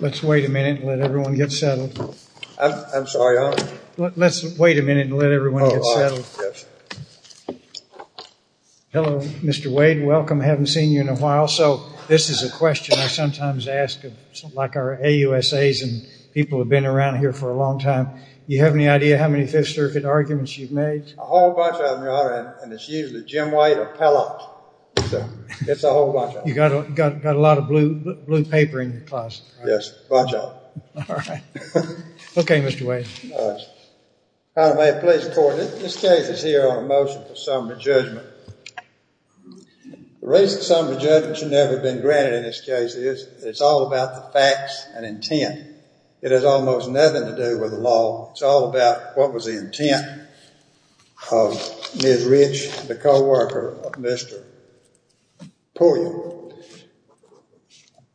Let's wait a minute and let everyone get settled. I'm sorry, Your Honor? Let's wait a minute and let everyone get settled. Oh, all right. Yes. Hello, Mr. Wade. Welcome. I haven't seen you in a while. So, this is a question I sometimes ask, like our AUSAs and people who have been around here for a long time. Do you have any idea how many Fifth Circuit arguments you've made? A whole bunch of them, Your Honor, and it's usually Jim White or Pellox. So, it's a whole bunch of them. You've got a lot of blue paper in your class. Yes, a bunch of them. All right. Okay, Mr. Wade. Your Honor, may it please the Court, this case is here on a motion for summary judgment. The reason summary judgment should never have been granted in this case is that it's all about the facts and intent. It has almost nothing to do with the law. It's all about what was the intent of Ms. Rich, the co-worker of Mr. Pulliam.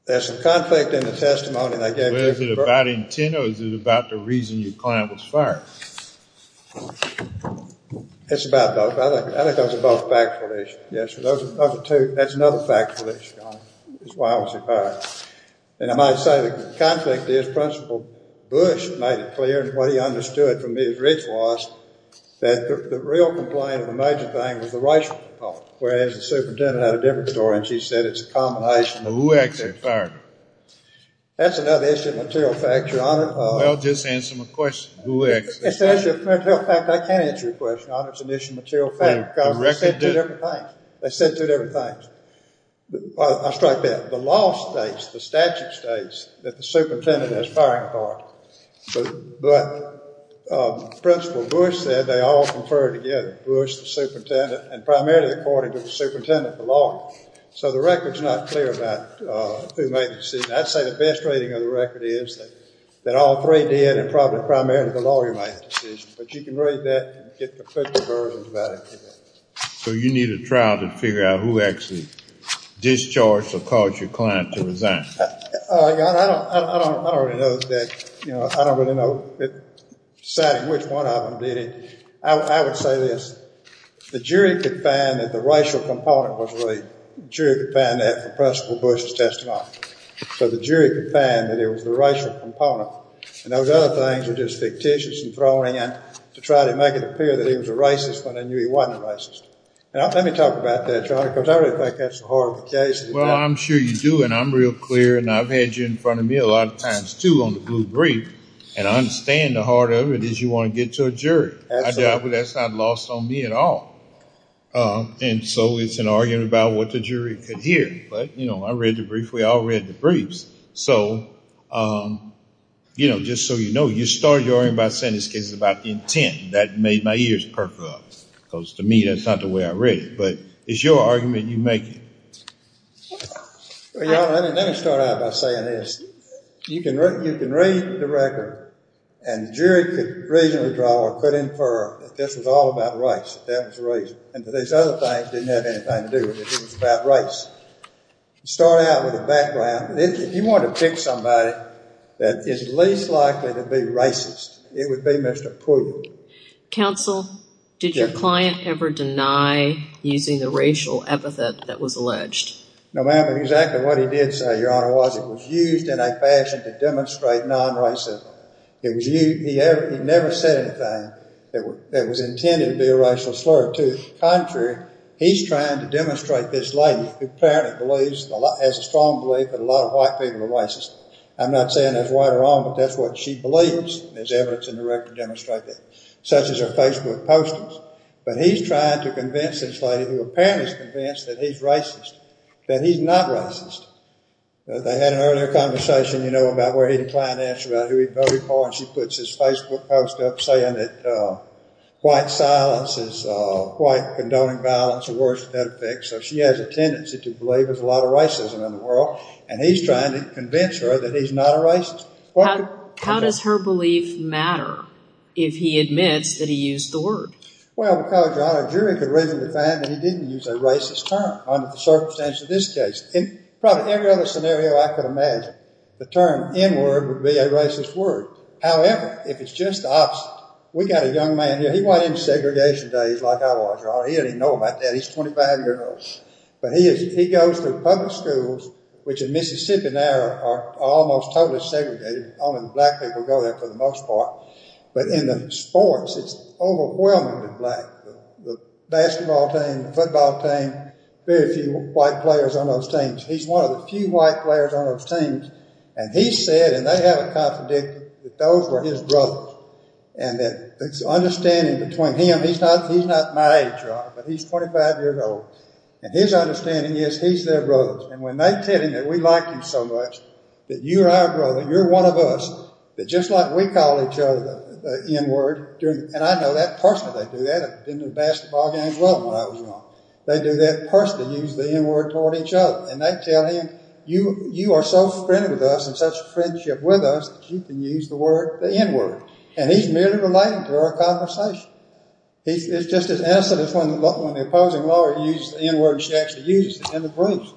There's some conflict in the testimony they gave you. Was it about intent or was it about the reason your client was fired? It's about both. I think those are both factual issues. Yes, those are two. That's another factual issue, Your Honor. That's why I was fired. And I might say the conflict is Principal Bush made it clear and what he understood from Ms. Rich was that the real complaint of the major thing was the racial component, whereas the superintendent had a different story and she said it's a combination of both. Well, who asked her to fire me? That's another issue of material facts, Your Honor. Well, just answer my question. Who asked her to fire me? It's an issue of material facts. I can't answer your question, Your Honor. It's an issue of material facts because they said two different things. They said two different things. I'll strike that. The law states, the statute states, that the superintendent has firing authority. But Principal Bush said they all conferred together. Bush, the superintendent, and primarily according to the superintendent, the law. So the record's not clear about who made the decision. I'd say the best rating of the record is that all three did and probably primarily the lawyer made the decision. But you can read that and get conflicted versions about it. So you need a trial to figure out who actually discharged or caused your client to resign. Your Honor, I don't really know, deciding which one of them did it. I would say this. The jury could find that the racial component was really, the jury could find that from Principal Bush's testimony. So the jury could find that it was the racial component. And those other things were just fictitious and thrown in to try to make it appear that he was a racist when they knew he wasn't a racist. Now, let me talk about that, Your Honor, because I really think that's the heart of the case. Well, I'm sure you do, and I'm real clear, and I've had you in front of me a lot of times, too, on the Blue Brief. And I understand the heart of it is you want to get to a jury. Absolutely. That's not lost on me at all. And so it's an argument about what the jury could hear. But, you know, I read the brief. We all read the briefs. So, you know, just so you know, you started your argument by saying this case is about the intent. That made my ears perk up, because to me that's not the way I read it. But it's your argument, you make it. Well, Your Honor, let me start out by saying this. You can read the record, and the jury could reasonably draw or could infer that this was all about race, that that was the reason. And these other things didn't have anything to do with it. It was about race. Start out with a background. If you want to pick somebody that is least likely to be racist, it would be Mr. Pruitt. Counsel, did your client ever deny using the racial epithet that was alleged? No, ma'am. Exactly what he did say, Your Honor, was it was used in a fashion to demonstrate non-racism. He never said anything that was intended to be a racial slur. To the contrary, he's trying to demonstrate this lady, who apparently has a strong belief that a lot of white people are racist. I'm not saying that's right or wrong, but that's what she believes. There's evidence in the record to demonstrate that. Such as her Facebook postings. But he's trying to convince this lady, who apparently is convinced that he's racist, that he's not racist. They had an earlier conversation, you know, about where he declined to answer about who he voted for. And she puts his Facebook post up saying that white silence is white condoning violence, or words with that effect. So she has a tendency to believe there's a lot of racism in the world. And he's trying to convince her that he's not a racist. How does her belief matter if he admits that he used the word? Well, because, Your Honor, a jury could reasonably find that he didn't use a racist term under the circumstances of this case. In probably every other scenario I could imagine, the term N-word would be a racist word. However, if it's just the opposite. We got a young man here. He went into segregation days like I was, Your Honor. He doesn't even know about that. He's 25 years old. But he goes to public schools, which in Mississippi now are almost totally segregated. Only the black people go there for the most part. But in the sports, it's overwhelmingly black. The basketball team, the football team, very few white players on those teams. He's one of the few white players on those teams. And he said, and they have it contradicted, that those were his brothers. And that there's an understanding between him. He's not my age, Your Honor, but he's 25 years old. And his understanding is he's their brother. And when they tell him that we like him so much, that you're our brother, you're one of us, that just like we call each other the N-word. And I know that personally. They do that. I've been to basketball games with them when I was young. They do that personally, use the N-word toward each other. And they tell him, you are so friendly with us and such a friendship with us, that you can use the N-word. And he's merely relating to our conversation. It's just as innocent as when the opposing lawyer uses the N-word, and she actually uses it in the briefs.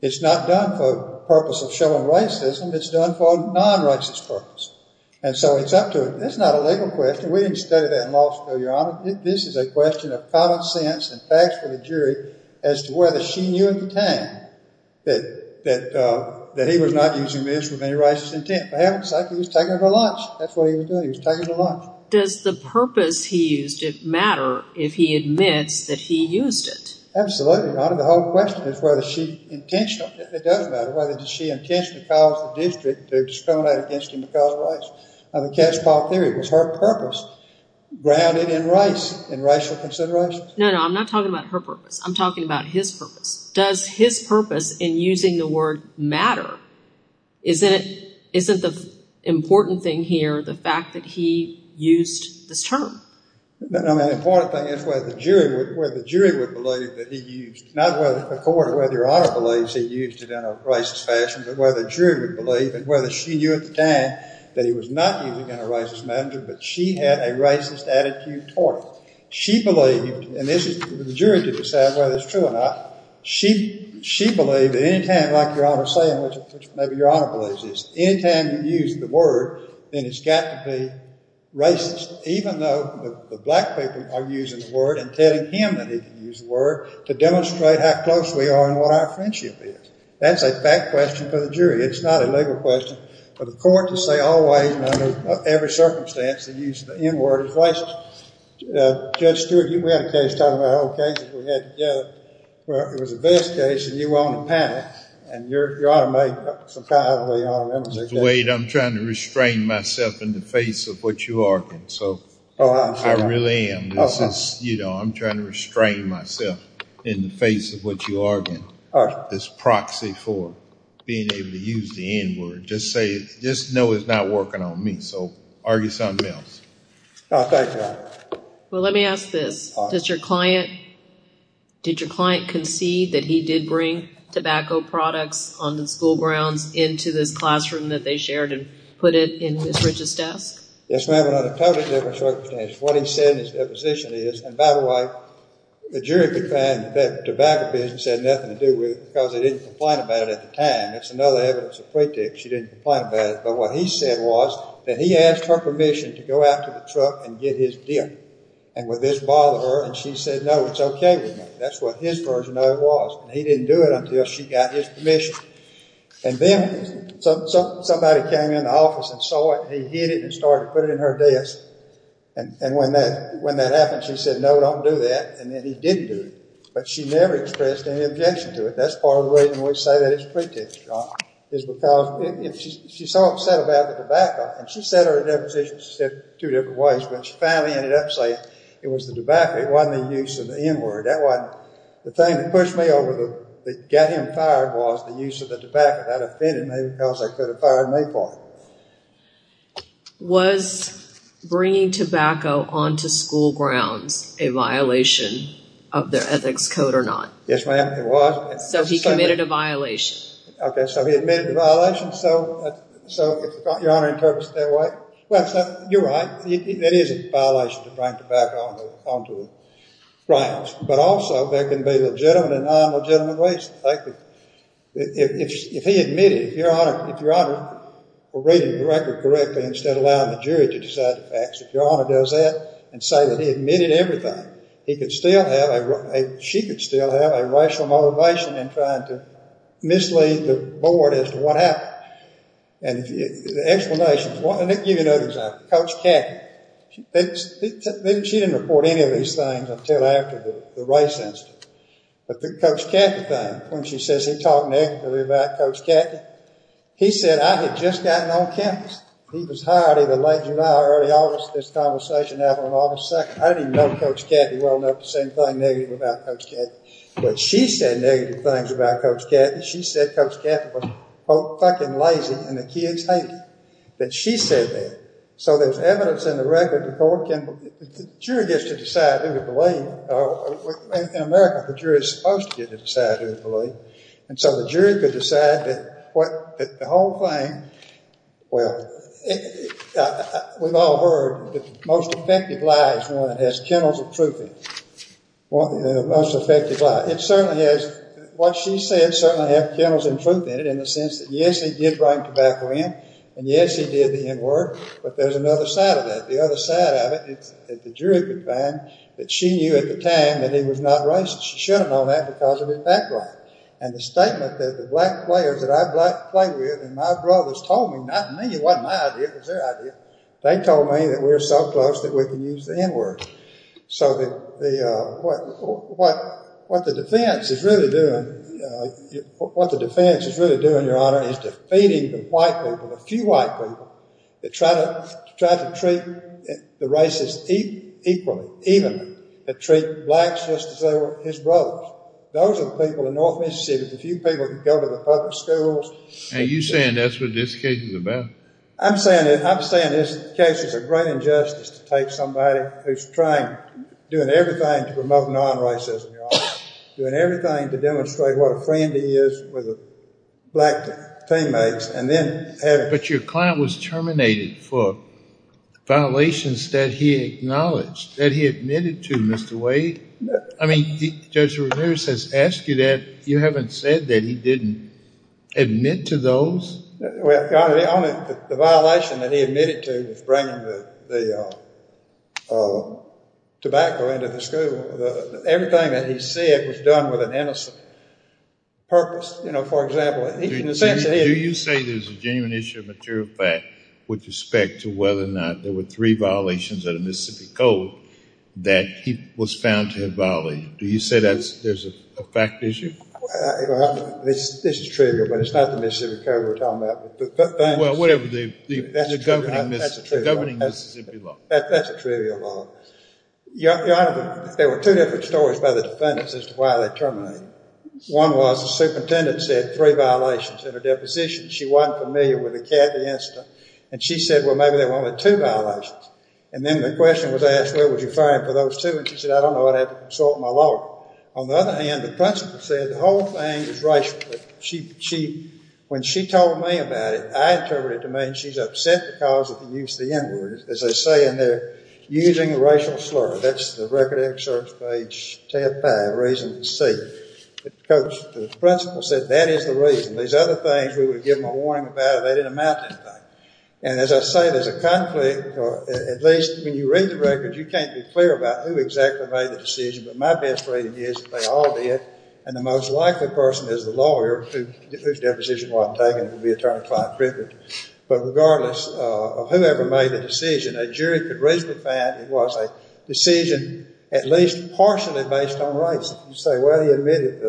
It's not done for the purpose of showing racism. It's done for a non-racist purpose. And so it's up to her. It's not a legal question. We didn't study that in law school, Your Honor. This is a question of common sense and facts for the jury as to whether she knew at the time that he was not using this with any racist intent. Perhaps he was taking her to lunch. That's what he was doing. He was taking her to lunch. Does the purpose he used it matter if he admits that he used it? Absolutely, Your Honor. The whole question is whether she intentionally, it doesn't matter whether she intentionally caused the district to discriminate against him because of racism. Was her purpose grounded in race, in racial considerations? No, no. I'm not talking about her purpose. I'm talking about his purpose. Does his purpose in using the word matter? Isn't the important thing here the fact that he used this term? No, no. The important thing is whether the jury would believe that he used, not whether the court or whether Your Honor believes he used it in a racist fashion, but whether the jury would believe and whether she knew at the time that he was not using it in a racist manner, but she had a racist attitude toward it. She believed, and this is for the jury to decide whether it's true or not, she believed that any time, like Your Honor is saying, which maybe Your Honor believes is, any time you use the word, then it's got to be racist, even though the black people are using the word and telling him that he can use the word to demonstrate how close we are and what our friendship is. That's a fact question for the jury. It's not a legal question. But the court can say all the ways and under every circumstance that he used the N-word as racist. Judge Stewart, we had a case talking about our old case that we had together where it was a vest case and you were on the panel, and Your Honor may somehow have a way of honoring him. Mr. Wade, I'm trying to restrain myself in the face of what you are arguing, so I really am. This is, you know, I'm trying to restrain myself in the face of what you are arguing. All right. This proxy for being able to use the N-word. Just say, just know it's not working on me. So argue something else. No, thank you, Your Honor. Well, let me ask this. Did your client concede that he did bring tobacco products on the school grounds into this classroom that they shared and put it in Ms. Ridge's desk? Yes, ma'am, under a totally different circumstance. What he said in his deposition is, and by the way, the jury could find that tobacco business had nothing to do with it because they didn't complain about it at the time. That's another evidence of pretext. She didn't complain about it. But what he said was that he asked her permission to go out to the truck and get his dip, and would this bother her? And she said, no, it's okay with me. That's what his version of it was. He didn't do it until she got his permission. And then somebody came in the office and saw it, and he hid it and started to put it in her desk. And when that happened, she said, no, don't do that. And then he did do it. But she never expressed any objection to it. That's part of the reason we say that it's pretext, John, is because she's so upset about the tobacco. And she said her deposition two different ways, but she finally ended up saying it was the tobacco. It wasn't the use of the N-word. The thing that pushed me over that got him fired was the use of the tobacco. That offended me because they could have fired me for it. Was bringing tobacco onto school grounds a violation of their ethics code or not? Yes, ma'am, it was. So he committed a violation. Okay, so he admitted the violation. So if your Honor interprets it that way, well, you're right. It is a violation to bring tobacco onto grounds. But also, there can be legitimate and non-legitimate ways. If he admitted, if your Honor were reading the record correctly instead of allowing the jury to decide the facts, if your Honor does that and say that he admitted everything, he could still have a—she could still have a racial motivation in trying to mislead the board as to what happened. And the explanation—let me give you another example. Coach Cathy, she didn't report any of these things until after the race incident. But the Coach Cathy thing, when she says he talked negatively about Coach Cathy, he said, I had just gotten on campus. He was hired either late July or early August. This conversation happened on August 2nd. I didn't even know Coach Cathy well enough to say anything negative about Coach Cathy. But she said negative things about Coach Cathy. She said Coach Cathy was, quote, fucking lazy and the kids hated it. That she said that. So there's evidence in the record that the court can— the jury gets to decide who to believe. In America, the jury is supposed to get to decide who to believe. And so the jury could decide that the whole thing— well, we've all heard the most effective lie is one that has kennels of truth in it. The most effective lie. It certainly has—what she said certainly has kennels of truth in it in the sense that, yes, he did bring tobacco in, and, yes, he did the N-word, but there's another side of that. The other side of it is that the jury could find that she knew at the time that he was not racist. She should have known that because of his background. And the statement that the black players that I play with and my brothers told me— not me, it wasn't my idea, it was their idea— they told me that we're so close that we can use the N-word. So what the defense is really doing, Your Honor, is defeating the white people, the few white people, that try to treat the racists equally, even, that treat blacks just as though they were his brothers. Those are the people in North Mississippi, the few people that can go to the public schools. And you're saying that's what this case is about? I'm saying this case is a great injustice to take somebody who's trying, doing everything to promote non-racism, Your Honor, doing everything to demonstrate what a friend he is with black teammates, and then— But your client was terminated for violations that he acknowledged, that he admitted to, Mr. Wade. I mean, Judge Ramirez has asked you that. You haven't said that he didn't admit to those? Well, Your Honor, the violation that he admitted to was bringing the tobacco into the school. Everything that he said was done with an innocent purpose. You know, for example— Do you say there's a genuine issue of material fact with respect to whether or not there were three violations of the Mississippi Code that he was found to have violated? Do you say there's a fact issue? This is trivial, but it's not the Mississippi Code we're talking about. Well, whatever, the governing Mississippi law. That's a trivial law. Your Honor, there were two different stories by the defendants as to why they terminated. One was the superintendent said three violations in her deposition. She wasn't familiar with the Cathy incident, and she said, well, maybe there were only two violations. And then the question was asked, where was your fine for those two? And she said, I don't know. I'd have to consult my lawyer. On the other hand, the principal said the whole thing was racial. When she told me about it, I interpreted it to mean she's upset because of the use of the N-word. As they say in there, using a racial slur. That's the record of excerpts page 10-5, reason C. The principal said that is the reason. These other things, we would give them a warning about it. They didn't amount to anything. And as I say, there's a conflict. At least when you read the records, you can't be clear about who exactly made the decision. But my best reading is they all did. And the most likely person is the lawyer whose deposition wasn't taken. It would be Attorney Clyde Cricket. But regardless of whoever made the decision, a jury could reasonably find it was a decision at least partially based on race. You say, well, he admitted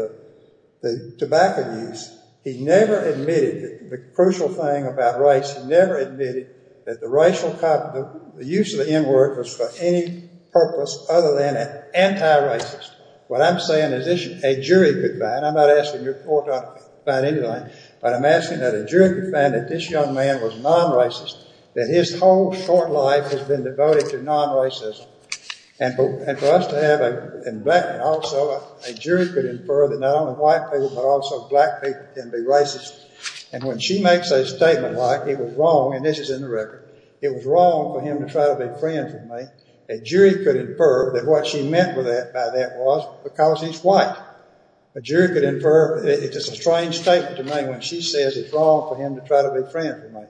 the tobacco use. He never admitted the crucial thing about race. He never admitted that the use of the N-word was for any purpose other than anti-racist. What I'm saying is a jury could find it. I'm not asking your court to find anything. But I'm asking that a jury could find that this young man was non-racist. That his whole short life has been devoted to non-racism. And for us to have a black man also, a jury could infer that not only white people but also black people can be racist. And when she makes a statement like it was wrong, and this is in the record, it was wrong for him to try to befriend me, a jury could infer that what she meant by that was because he's white. A jury could infer it's a strange statement to make when she says it's wrong for him to try to befriend me.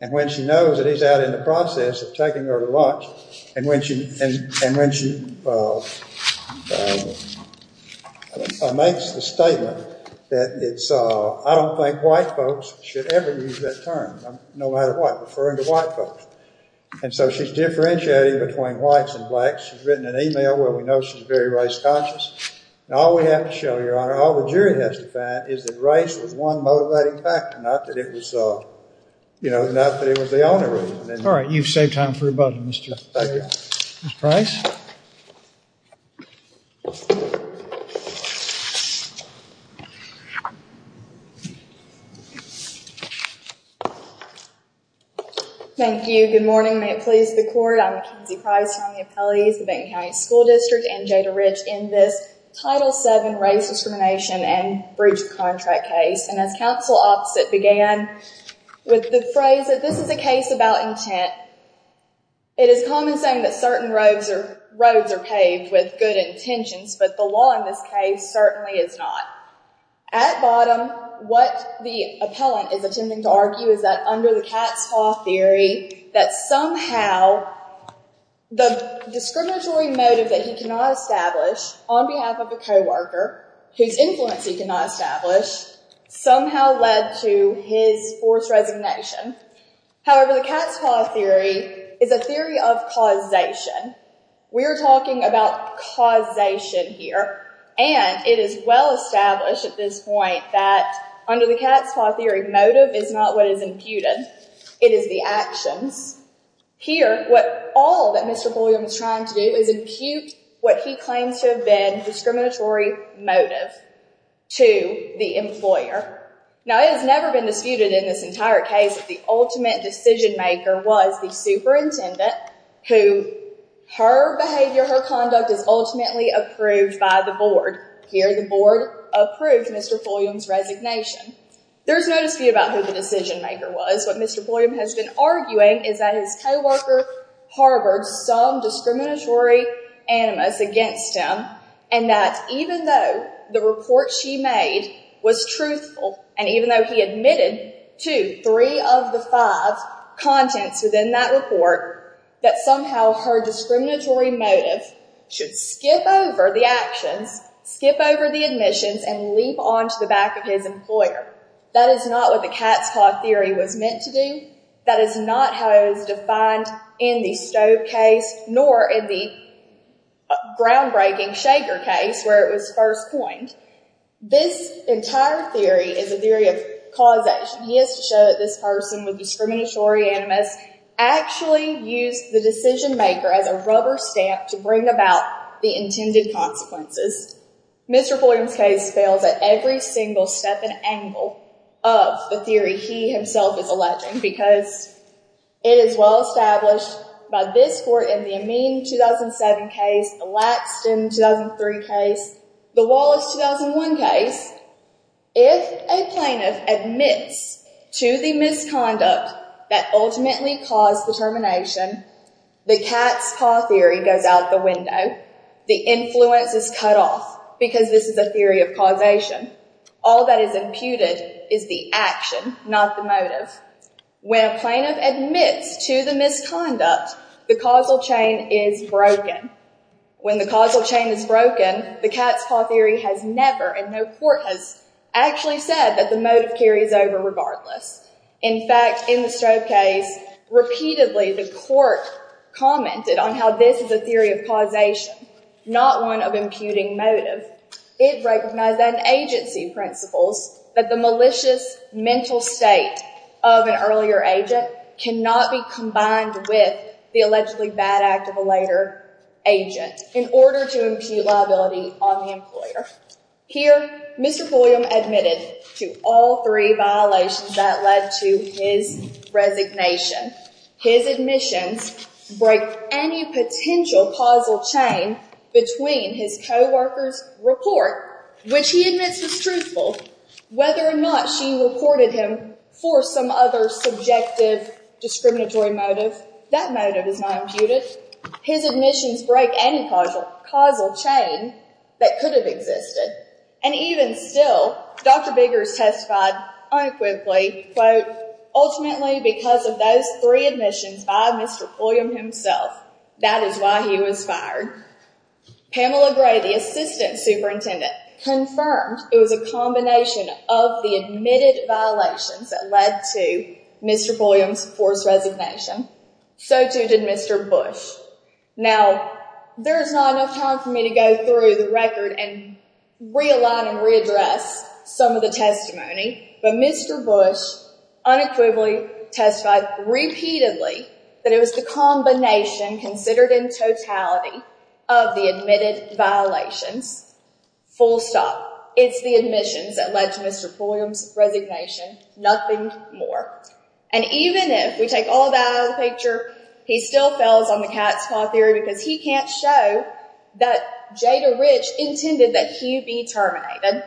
And when she knows that he's out in the process of taking her to lunch, and when she makes the statement that it's, I don't think white folks should ever use that term, no matter what, referring to white folks. And so she's differentiating between whites and blacks. She's written an email where we know she's very race conscious. And all we have to show, Your Honor, all the jury has to find is that race was one motivating factor, not that it was, you know, not that it was the only reason. All right. You've saved time for rebuttal, Mr. Price. Thank you. Thank you. Good morning. May it please the court. I'm Mackenzie Price. I'm the appellee of the Benton County School District and Jada Ridge in this Title VII race discrimination and breach of contract case. And as counsel opposite began with the phrase that this is a case about intent, it is common saying that certain roads are paved with good intentions, but the law in this case certainly is not. At bottom, what the appellant is attempting to argue is that under the cat's paw theory, that somehow the discriminatory motive that he cannot establish on behalf of a co-worker, whose influence he cannot establish, somehow led to his forced resignation. However, the cat's paw theory is a theory of causation. We are talking about causation here. And it is well established at this point that under the cat's paw theory, motive is not what is imputed. It is the actions. Here, what all that Mr. Fulham is trying to do is impute what he claims to have been discriminatory motive to the employer. Now, it has never been disputed in this entire case that the ultimate decision maker was the superintendent, who her behavior, her conduct is ultimately approved by the board. Here, the board approved Mr. Fulham's resignation. There's no dispute about who the decision maker was. What Mr. Fulham has been arguing is that his co-worker harbored some discriminatory animus against him, and that even though the report she made was truthful, and even though he admitted to three of the five contents within that report, that somehow her discriminatory motive should skip over the actions, skip over the admissions, and leap onto the back of his employer. That is not what the cat's paw theory was meant to do. That is not how it was defined in the Stove case, nor in the groundbreaking Shaker case where it was first coined. This entire theory is a theory of causation. He has to show that this person with discriminatory animus actually used the decision maker as a rubber stamp to bring about the intended consequences. Mr. Fulham's case fails at every single step and angle of the theory he himself is alleging because it is well established by this court in the Amin 2007 case, the Laxton 2003 case, the Wallace 2001 case, if a plaintiff admits to the misconduct that ultimately caused the termination, the cat's paw theory goes out the window. The influence is cut off because this is a theory of causation. All that is imputed is the action, not the motive. When a plaintiff admits to the misconduct, the causal chain is broken. When the causal chain is broken, the cat's paw theory has never, and no court has actually said that the motive carries over regardless. In fact, in the Stove case, repeatedly the court commented on how this is a theory of causation not one of imputing motive. It recognized that in agency principles that the malicious mental state of an earlier agent cannot be combined with the allegedly bad act of a later agent in order to impute liability on the employer. Here, Mr. Fulham admitted to all three violations that led to his resignation. His admissions break any potential causal chain between his co-worker's report, which he admits was truthful, whether or not she reported him for some other subjective discriminatory motive, that motive is not imputed. His admissions break any causal chain that could have existed. And even still, Dr. Biggers testified unequivocally, quote, ultimately because of those three admissions by Mr. Fulham himself, that is why he was fired. Pamela Gray, the assistant superintendent, confirmed it was a combination of the admitted violations that led to Mr. Fulham's forced resignation. So too did Mr. Bush. Now, there's not enough time for me to go through the record and realign and readdress some of the testimony, but Mr. Bush unequivocally testified repeatedly that it was the combination considered in totality of the admitted violations. Full stop. It's the admissions that led to Mr. Fulham's resignation. Nothing more. And even if we take all that out of the picture, he still fails on the cat's paw theory because he can't show that Jada Rich intended that he be terminated.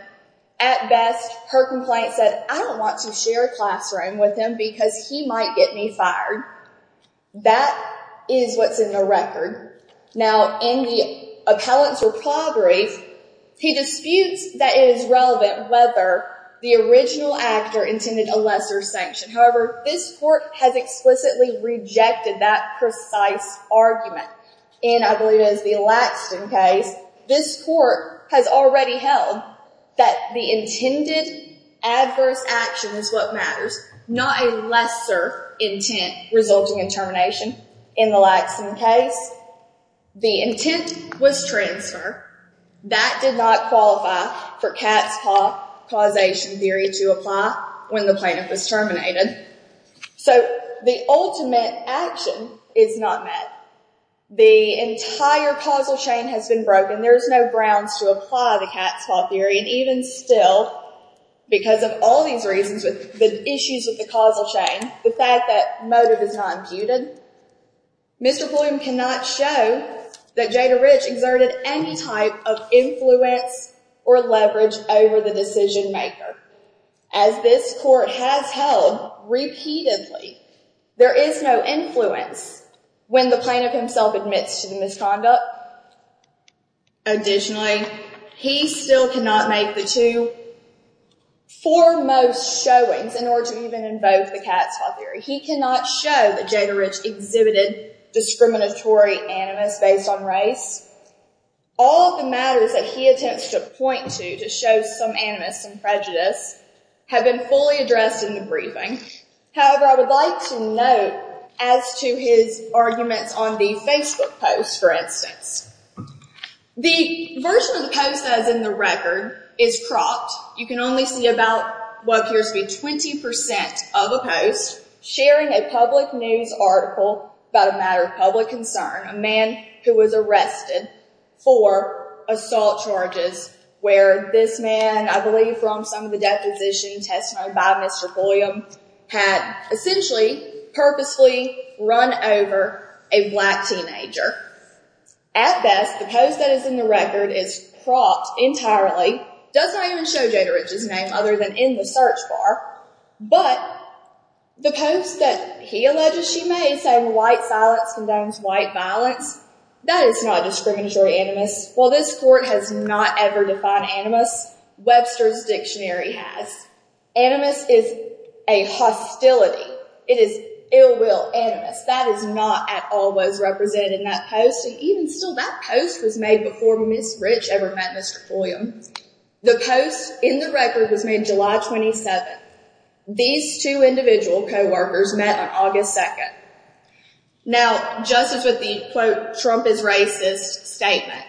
At best, her complaint said, I don't want to share a classroom with him because he might get me fired. That is what's in the record. Now, in the appellant's reply brief, he disputes that it is relevant whether the original actor intended a lesser sanction. However, this court has explicitly rejected that precise argument. And I believe it is the Laxton case. This court has already held that the intended adverse action is what matters, not a lesser intent resulting in termination. In the Laxton case, the intent was transfer. That did not qualify for cat's paw causation theory to apply when the plaintiff was terminated. So the ultimate action is not met. The entire causal chain has been broken. There is no grounds to apply the cat's paw theory. And even still, because of all these reasons with the issues with the causal chain, the fact that motive is not imputed, Mr. Bloom cannot show that Jada Rich exerted any type of influence or leverage over the decision maker. As this court has held repeatedly, there is no influence when the plaintiff himself admits to the misconduct. Additionally, he still cannot make the two foremost showings in order to even invoke the cat's paw theory. He cannot show that Jada Rich exhibited discriminatory animus based on race. All of the matters that he attempts to point to to show some animus and prejudice have been fully addressed in the briefing. However, I would like to note as to his arguments on the Facebook post, for instance. The version of the post that is in the record is cropped. You can only see about what appears to be 20% of a post sharing a public news article about a matter of public concern. A man who was arrested for assault charges where this man, I believe from some of the deposition testimony by Mr. Bloom, had essentially purposely run over a black teenager. At best, the post that is in the record is cropped entirely. It does not even show Jada Rich's name other than in the search bar. But the post that he alleges she made saying white silence condones white violence, that is not discriminatory animus. While this court has not ever defined animus, Webster's Dictionary has. Animus is a hostility. It is ill-will animus. That is not at all what is represented in that post. Even still, that post was made before Ms. Rich ever met Mr. Bloom. The post in the record was made July 27th. These two individual co-workers met on August 2nd. Now, just as with the, quote, Trump is racist statement,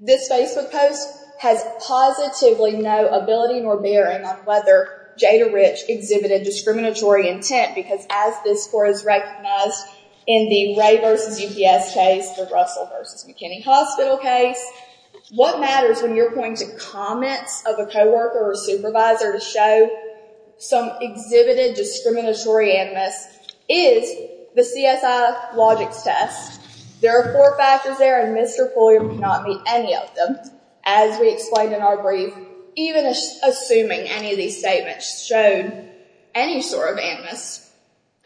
this Facebook post has positively no ability nor bearing on whether Jada Rich exhibited discriminatory intent because as this court has recognized in the Ray vs. UPS case, the Russell vs. McKinney Hospital case, what matters when you're pointing to comments of a co-worker or supervisor to show some exhibited discriminatory animus is the CSI logics test. There are four factors there and Mr. Fulham cannot meet any of them. As we explained in our brief, even assuming any of these statements showed any sort of animus,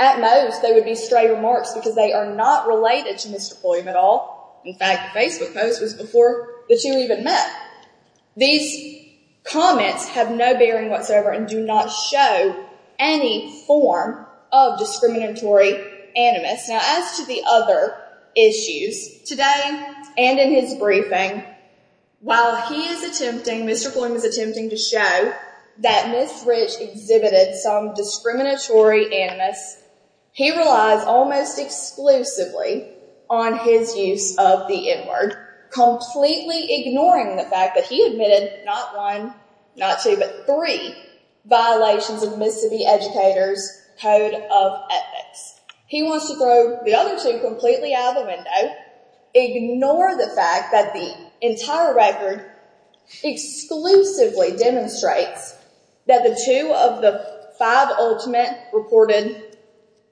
at most they would be stray remarks because they are not related to Mr. Fulham at all. In fact, the Facebook post was before the two even met. These comments have no bearing whatsoever and do not show any form of discriminatory animus. Now, as to the other issues, today and in his briefing, while he is attempting, Mr. Fulham is attempting to show that Ms. Rich exhibited some discriminatory animus, he relies almost exclusively on his use of the N-word, completely ignoring the fact that he admitted not one, not two, but three violations of Mississippi Educators' Code of Ethics. He wants to throw the other two completely out of the window, ignore the fact that the entire record exclusively demonstrates that the two of the five ultimate reported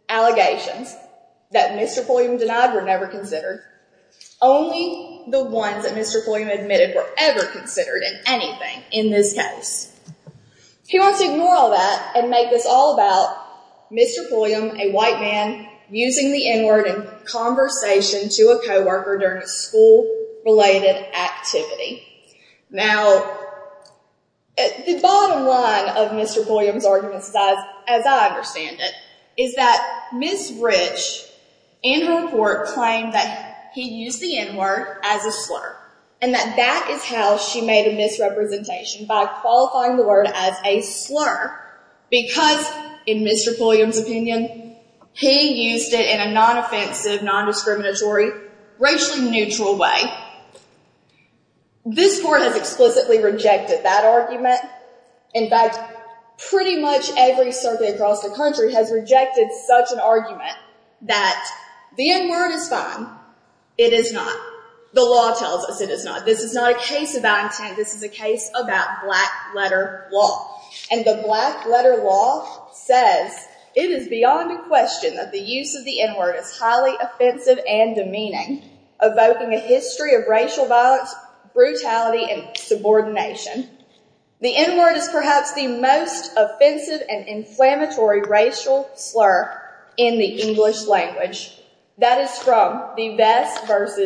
allegations that Mr. Fulham denied were never considered. Only the ones that Mr. Fulham admitted were ever considered in anything in this case. He wants to ignore all that and make this all about Mr. Fulham, a white man, using the N-word in conversation to a co-worker during a school-related activity. Now, the bottom line of Mr. Fulham's argument, as I understand it, is that Ms. Rich, in her report, claimed that he used the N-word as a slur and that that is how she made a misrepresentation by qualifying the word as a slur because, in Mr. Fulham's opinion, he used it in a non-offensive, non-discriminatory, racially neutral way. This court has explicitly rejected that argument. In fact, pretty much every circuit across the country has rejected such an argument that the N-word is fine. It is not. The law tells us it is not. This is not a case about intent. This is a case about black-letter law. And the black-letter law says, It is beyond a question that the use of the N-word is highly offensive and demeaning, evoking a history of racial violence, brutality, and subordination. The N-word is perhaps the most offensive and inflammatory racial slur in the English language. That is from the Vest v.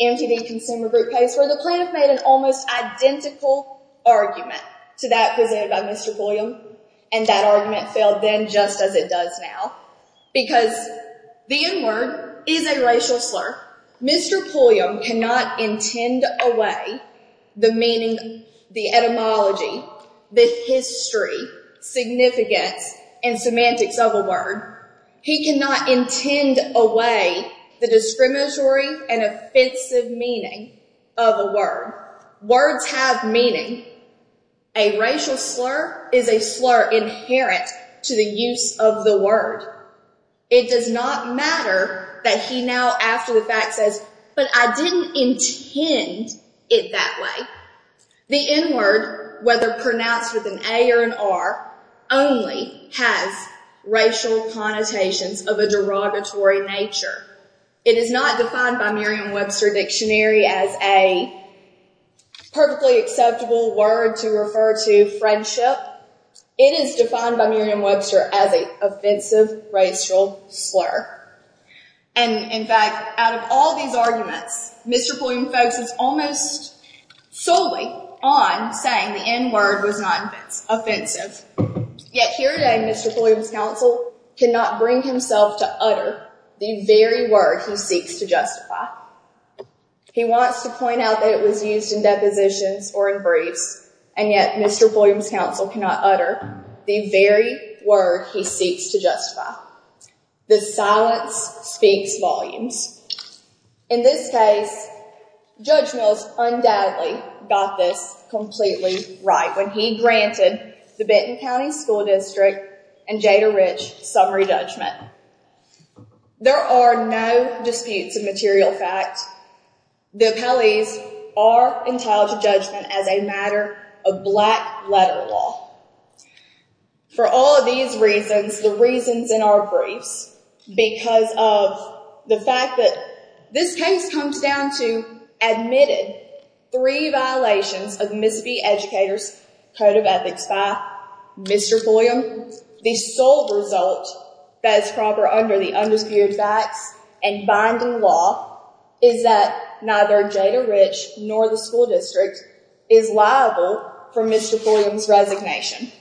MTV Consumer Group case, where the plaintiff made an almost identical argument to that presented by Mr. Fulham, and that argument failed then just as it does now. Because the N-word is a racial slur. Mr. Fulham cannot intend away the meaning, the etymology, the history, significance, and semantics of a word. He cannot intend away the discriminatory and offensive meaning of a word. Words have meaning. A racial slur is a slur inherent to the use of the word. It does not matter that he now, after the fact, says, But I didn't intend it that way. The N-word, whether pronounced with an A or an R, only has racial connotations of a derogatory nature. It is not defined by Merriam-Webster Dictionary as a perfectly acceptable word to refer to friendship. It is defined by Merriam-Webster as an offensive racial slur. And, in fact, out of all these arguments, Mr. Fulham focuses almost solely on saying the N-word was not offensive. Yet here today, Mr. Fulham's counsel cannot bring himself to utter the very word he seeks to justify. He wants to point out that it was used in depositions or in briefs, and yet Mr. Fulham's counsel cannot utter the very word he seeks to justify. The silence speaks volumes. In this case, Judge Mills undoubtedly got this completely right when he granted the Benton County School District and Jader Ridge summary judgment. There are no disputes of material fact. The appellees are entitled to judgment as a matter of black-letter law. For all of these reasons, the reasons in our briefs, because of the fact that this case comes down to admitted three violations of Mississippi Educators' Code of Ethics by Mr. Fulham, the sole result that is proper under the undisputed facts and binding law is that neither Jader Ridge nor the school district is liable for Mr. Fulham's resignation.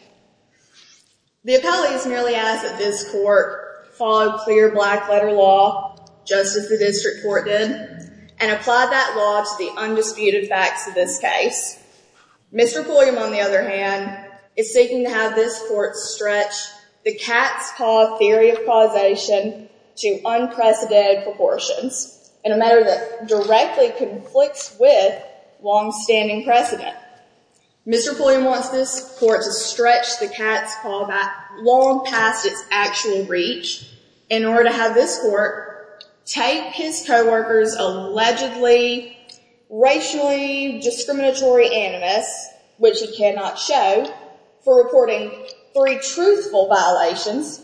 The appellees merely ask that this court follow clear black-letter law, just as the district court did, and apply that law to the undisputed facts of this case. Mr. Fulham, on the other hand, is seeking to have this court stretch the cat's paw theory of causation to unprecedented proportions in a matter that directly conflicts with long-standing precedent. Mr. Fulham wants this court to stretch the cat's paw back long past its actual reach in order to have this court take his co-workers' allegedly racially discriminatory animus, which he cannot show, for reporting three truthful violations,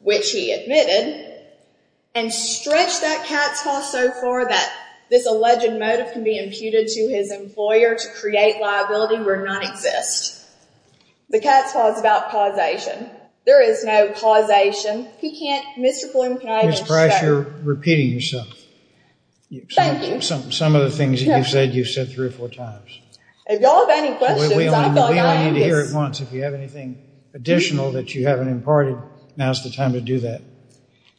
which he admitted, and stretch that cat's paw so far that this alleged motive can be imputed to his employer to create liability where none exists. The cat's paw is about causation. There is no causation. He can't. Mr. Fulham, can I just say? Ms. Price, you're repeating yourself. Thank you. Some of the things that you've said, you've said three or four times. If y'all have any questions, I feel like I am just— We only need to hear it once. If you have anything additional that you haven't imparted, now's the time to do that.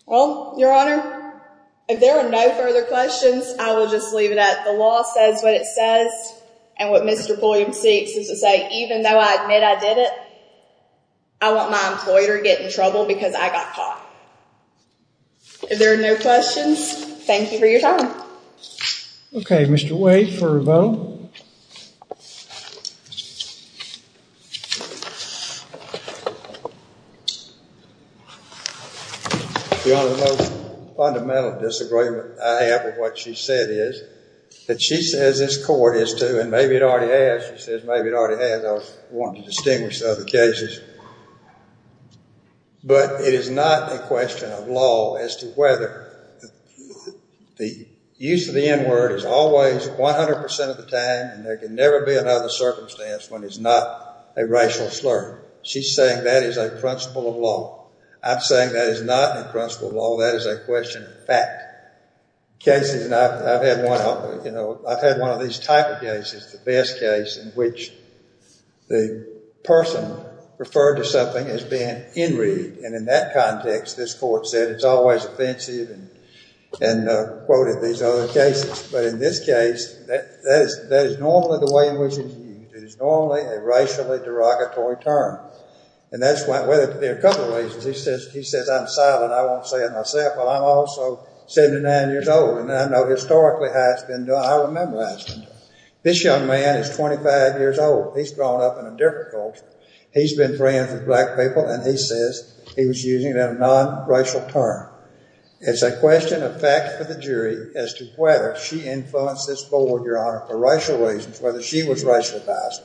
Well, Your Honor, if there are no further questions, I will just leave it at the law says what it says, and what Mr. Fulham seeks is to say, even though I admit I did it, I want my employer to get in trouble because I got caught. If there are no questions, thank you for your time. Okay, Mr. Wade for a vote. Your Honor, the most fundamental disagreement I have with what she said is that she says this court is to, and maybe it already has. She says maybe it already has. I was wanting to distinguish the other cases, but it is not a question of law as to whether. The use of the N-word is always 100% of the time, and there can never be another circumstance when it's not a racial slur. She's saying that is a principle of law. I'm saying that is not a principle of law. That is a question of fact. I've had one of these type of cases, the best case, in which the person referred to something as being enraged, and in that context, this court said it's always offensive and quoted these other cases, but in this case, that is normally the way in which it's used. It is normally a racially derogatory term, and that's why, well, there are a couple of reasons. He says I'm silent. I won't say it myself, but I'm also 79 years old, and I know historically how it's been done. I remember how it's been done. This young man is 25 years old. He's grown up in a different culture. He's been friends with black people, and he says he was using it in a non-racial term. It's a question of fact for the jury as to whether she influenced this board, Your Honor, for racial reasons, whether she was racially biased.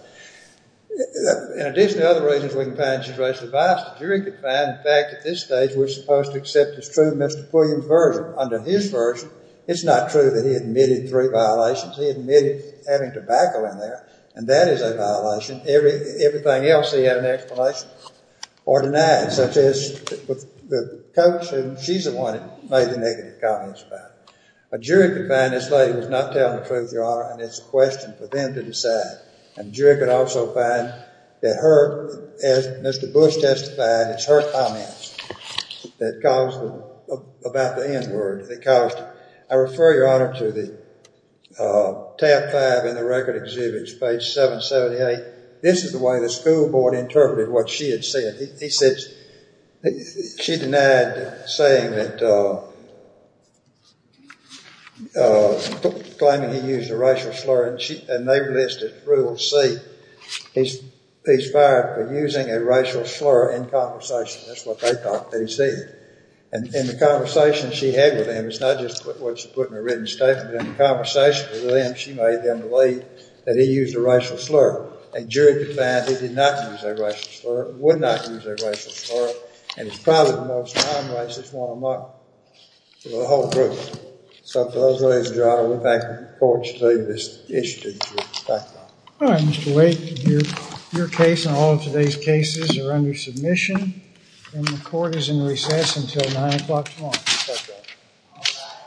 In addition to other reasons we can find she's racially biased, the jury can find the fact at this stage we're supposed to accept as true Mr. Pulliam's version. Under his version, it's not true that he admitted three violations. He admitted having tobacco in there, and that is a violation. Everything else he had an explanation for or denied, such as the coach, and she's the one who made the negative comments about it. A jury could find this lady was not telling the truth, Your Honor, and it's a question for them to decide. A jury could also find that her, as Mr. Bush testified, it's her comments that caused about the N word. I refer, Your Honor, to the tab five in the record exhibit, page 778. This is the way the school board interpreted what she had said. She denied claiming he used a racial slur, and they listed rule C. He's fired for using a racial slur in conversation. That's what they thought they'd see. In the conversation she had with him, it's not just what she put in her written statement. In the conversation with him, she made them believe that he used a racial slur. A jury could find he did not use a racial slur, would not use a racial slur, and it's probably the most non-racist one among the whole group. So for those reasons, Your Honor, we thank the court for this issue. Thank you. All right, Mr. Wake, your case and all of today's cases are under submission, and the court is in recess until 9 o'clock tomorrow.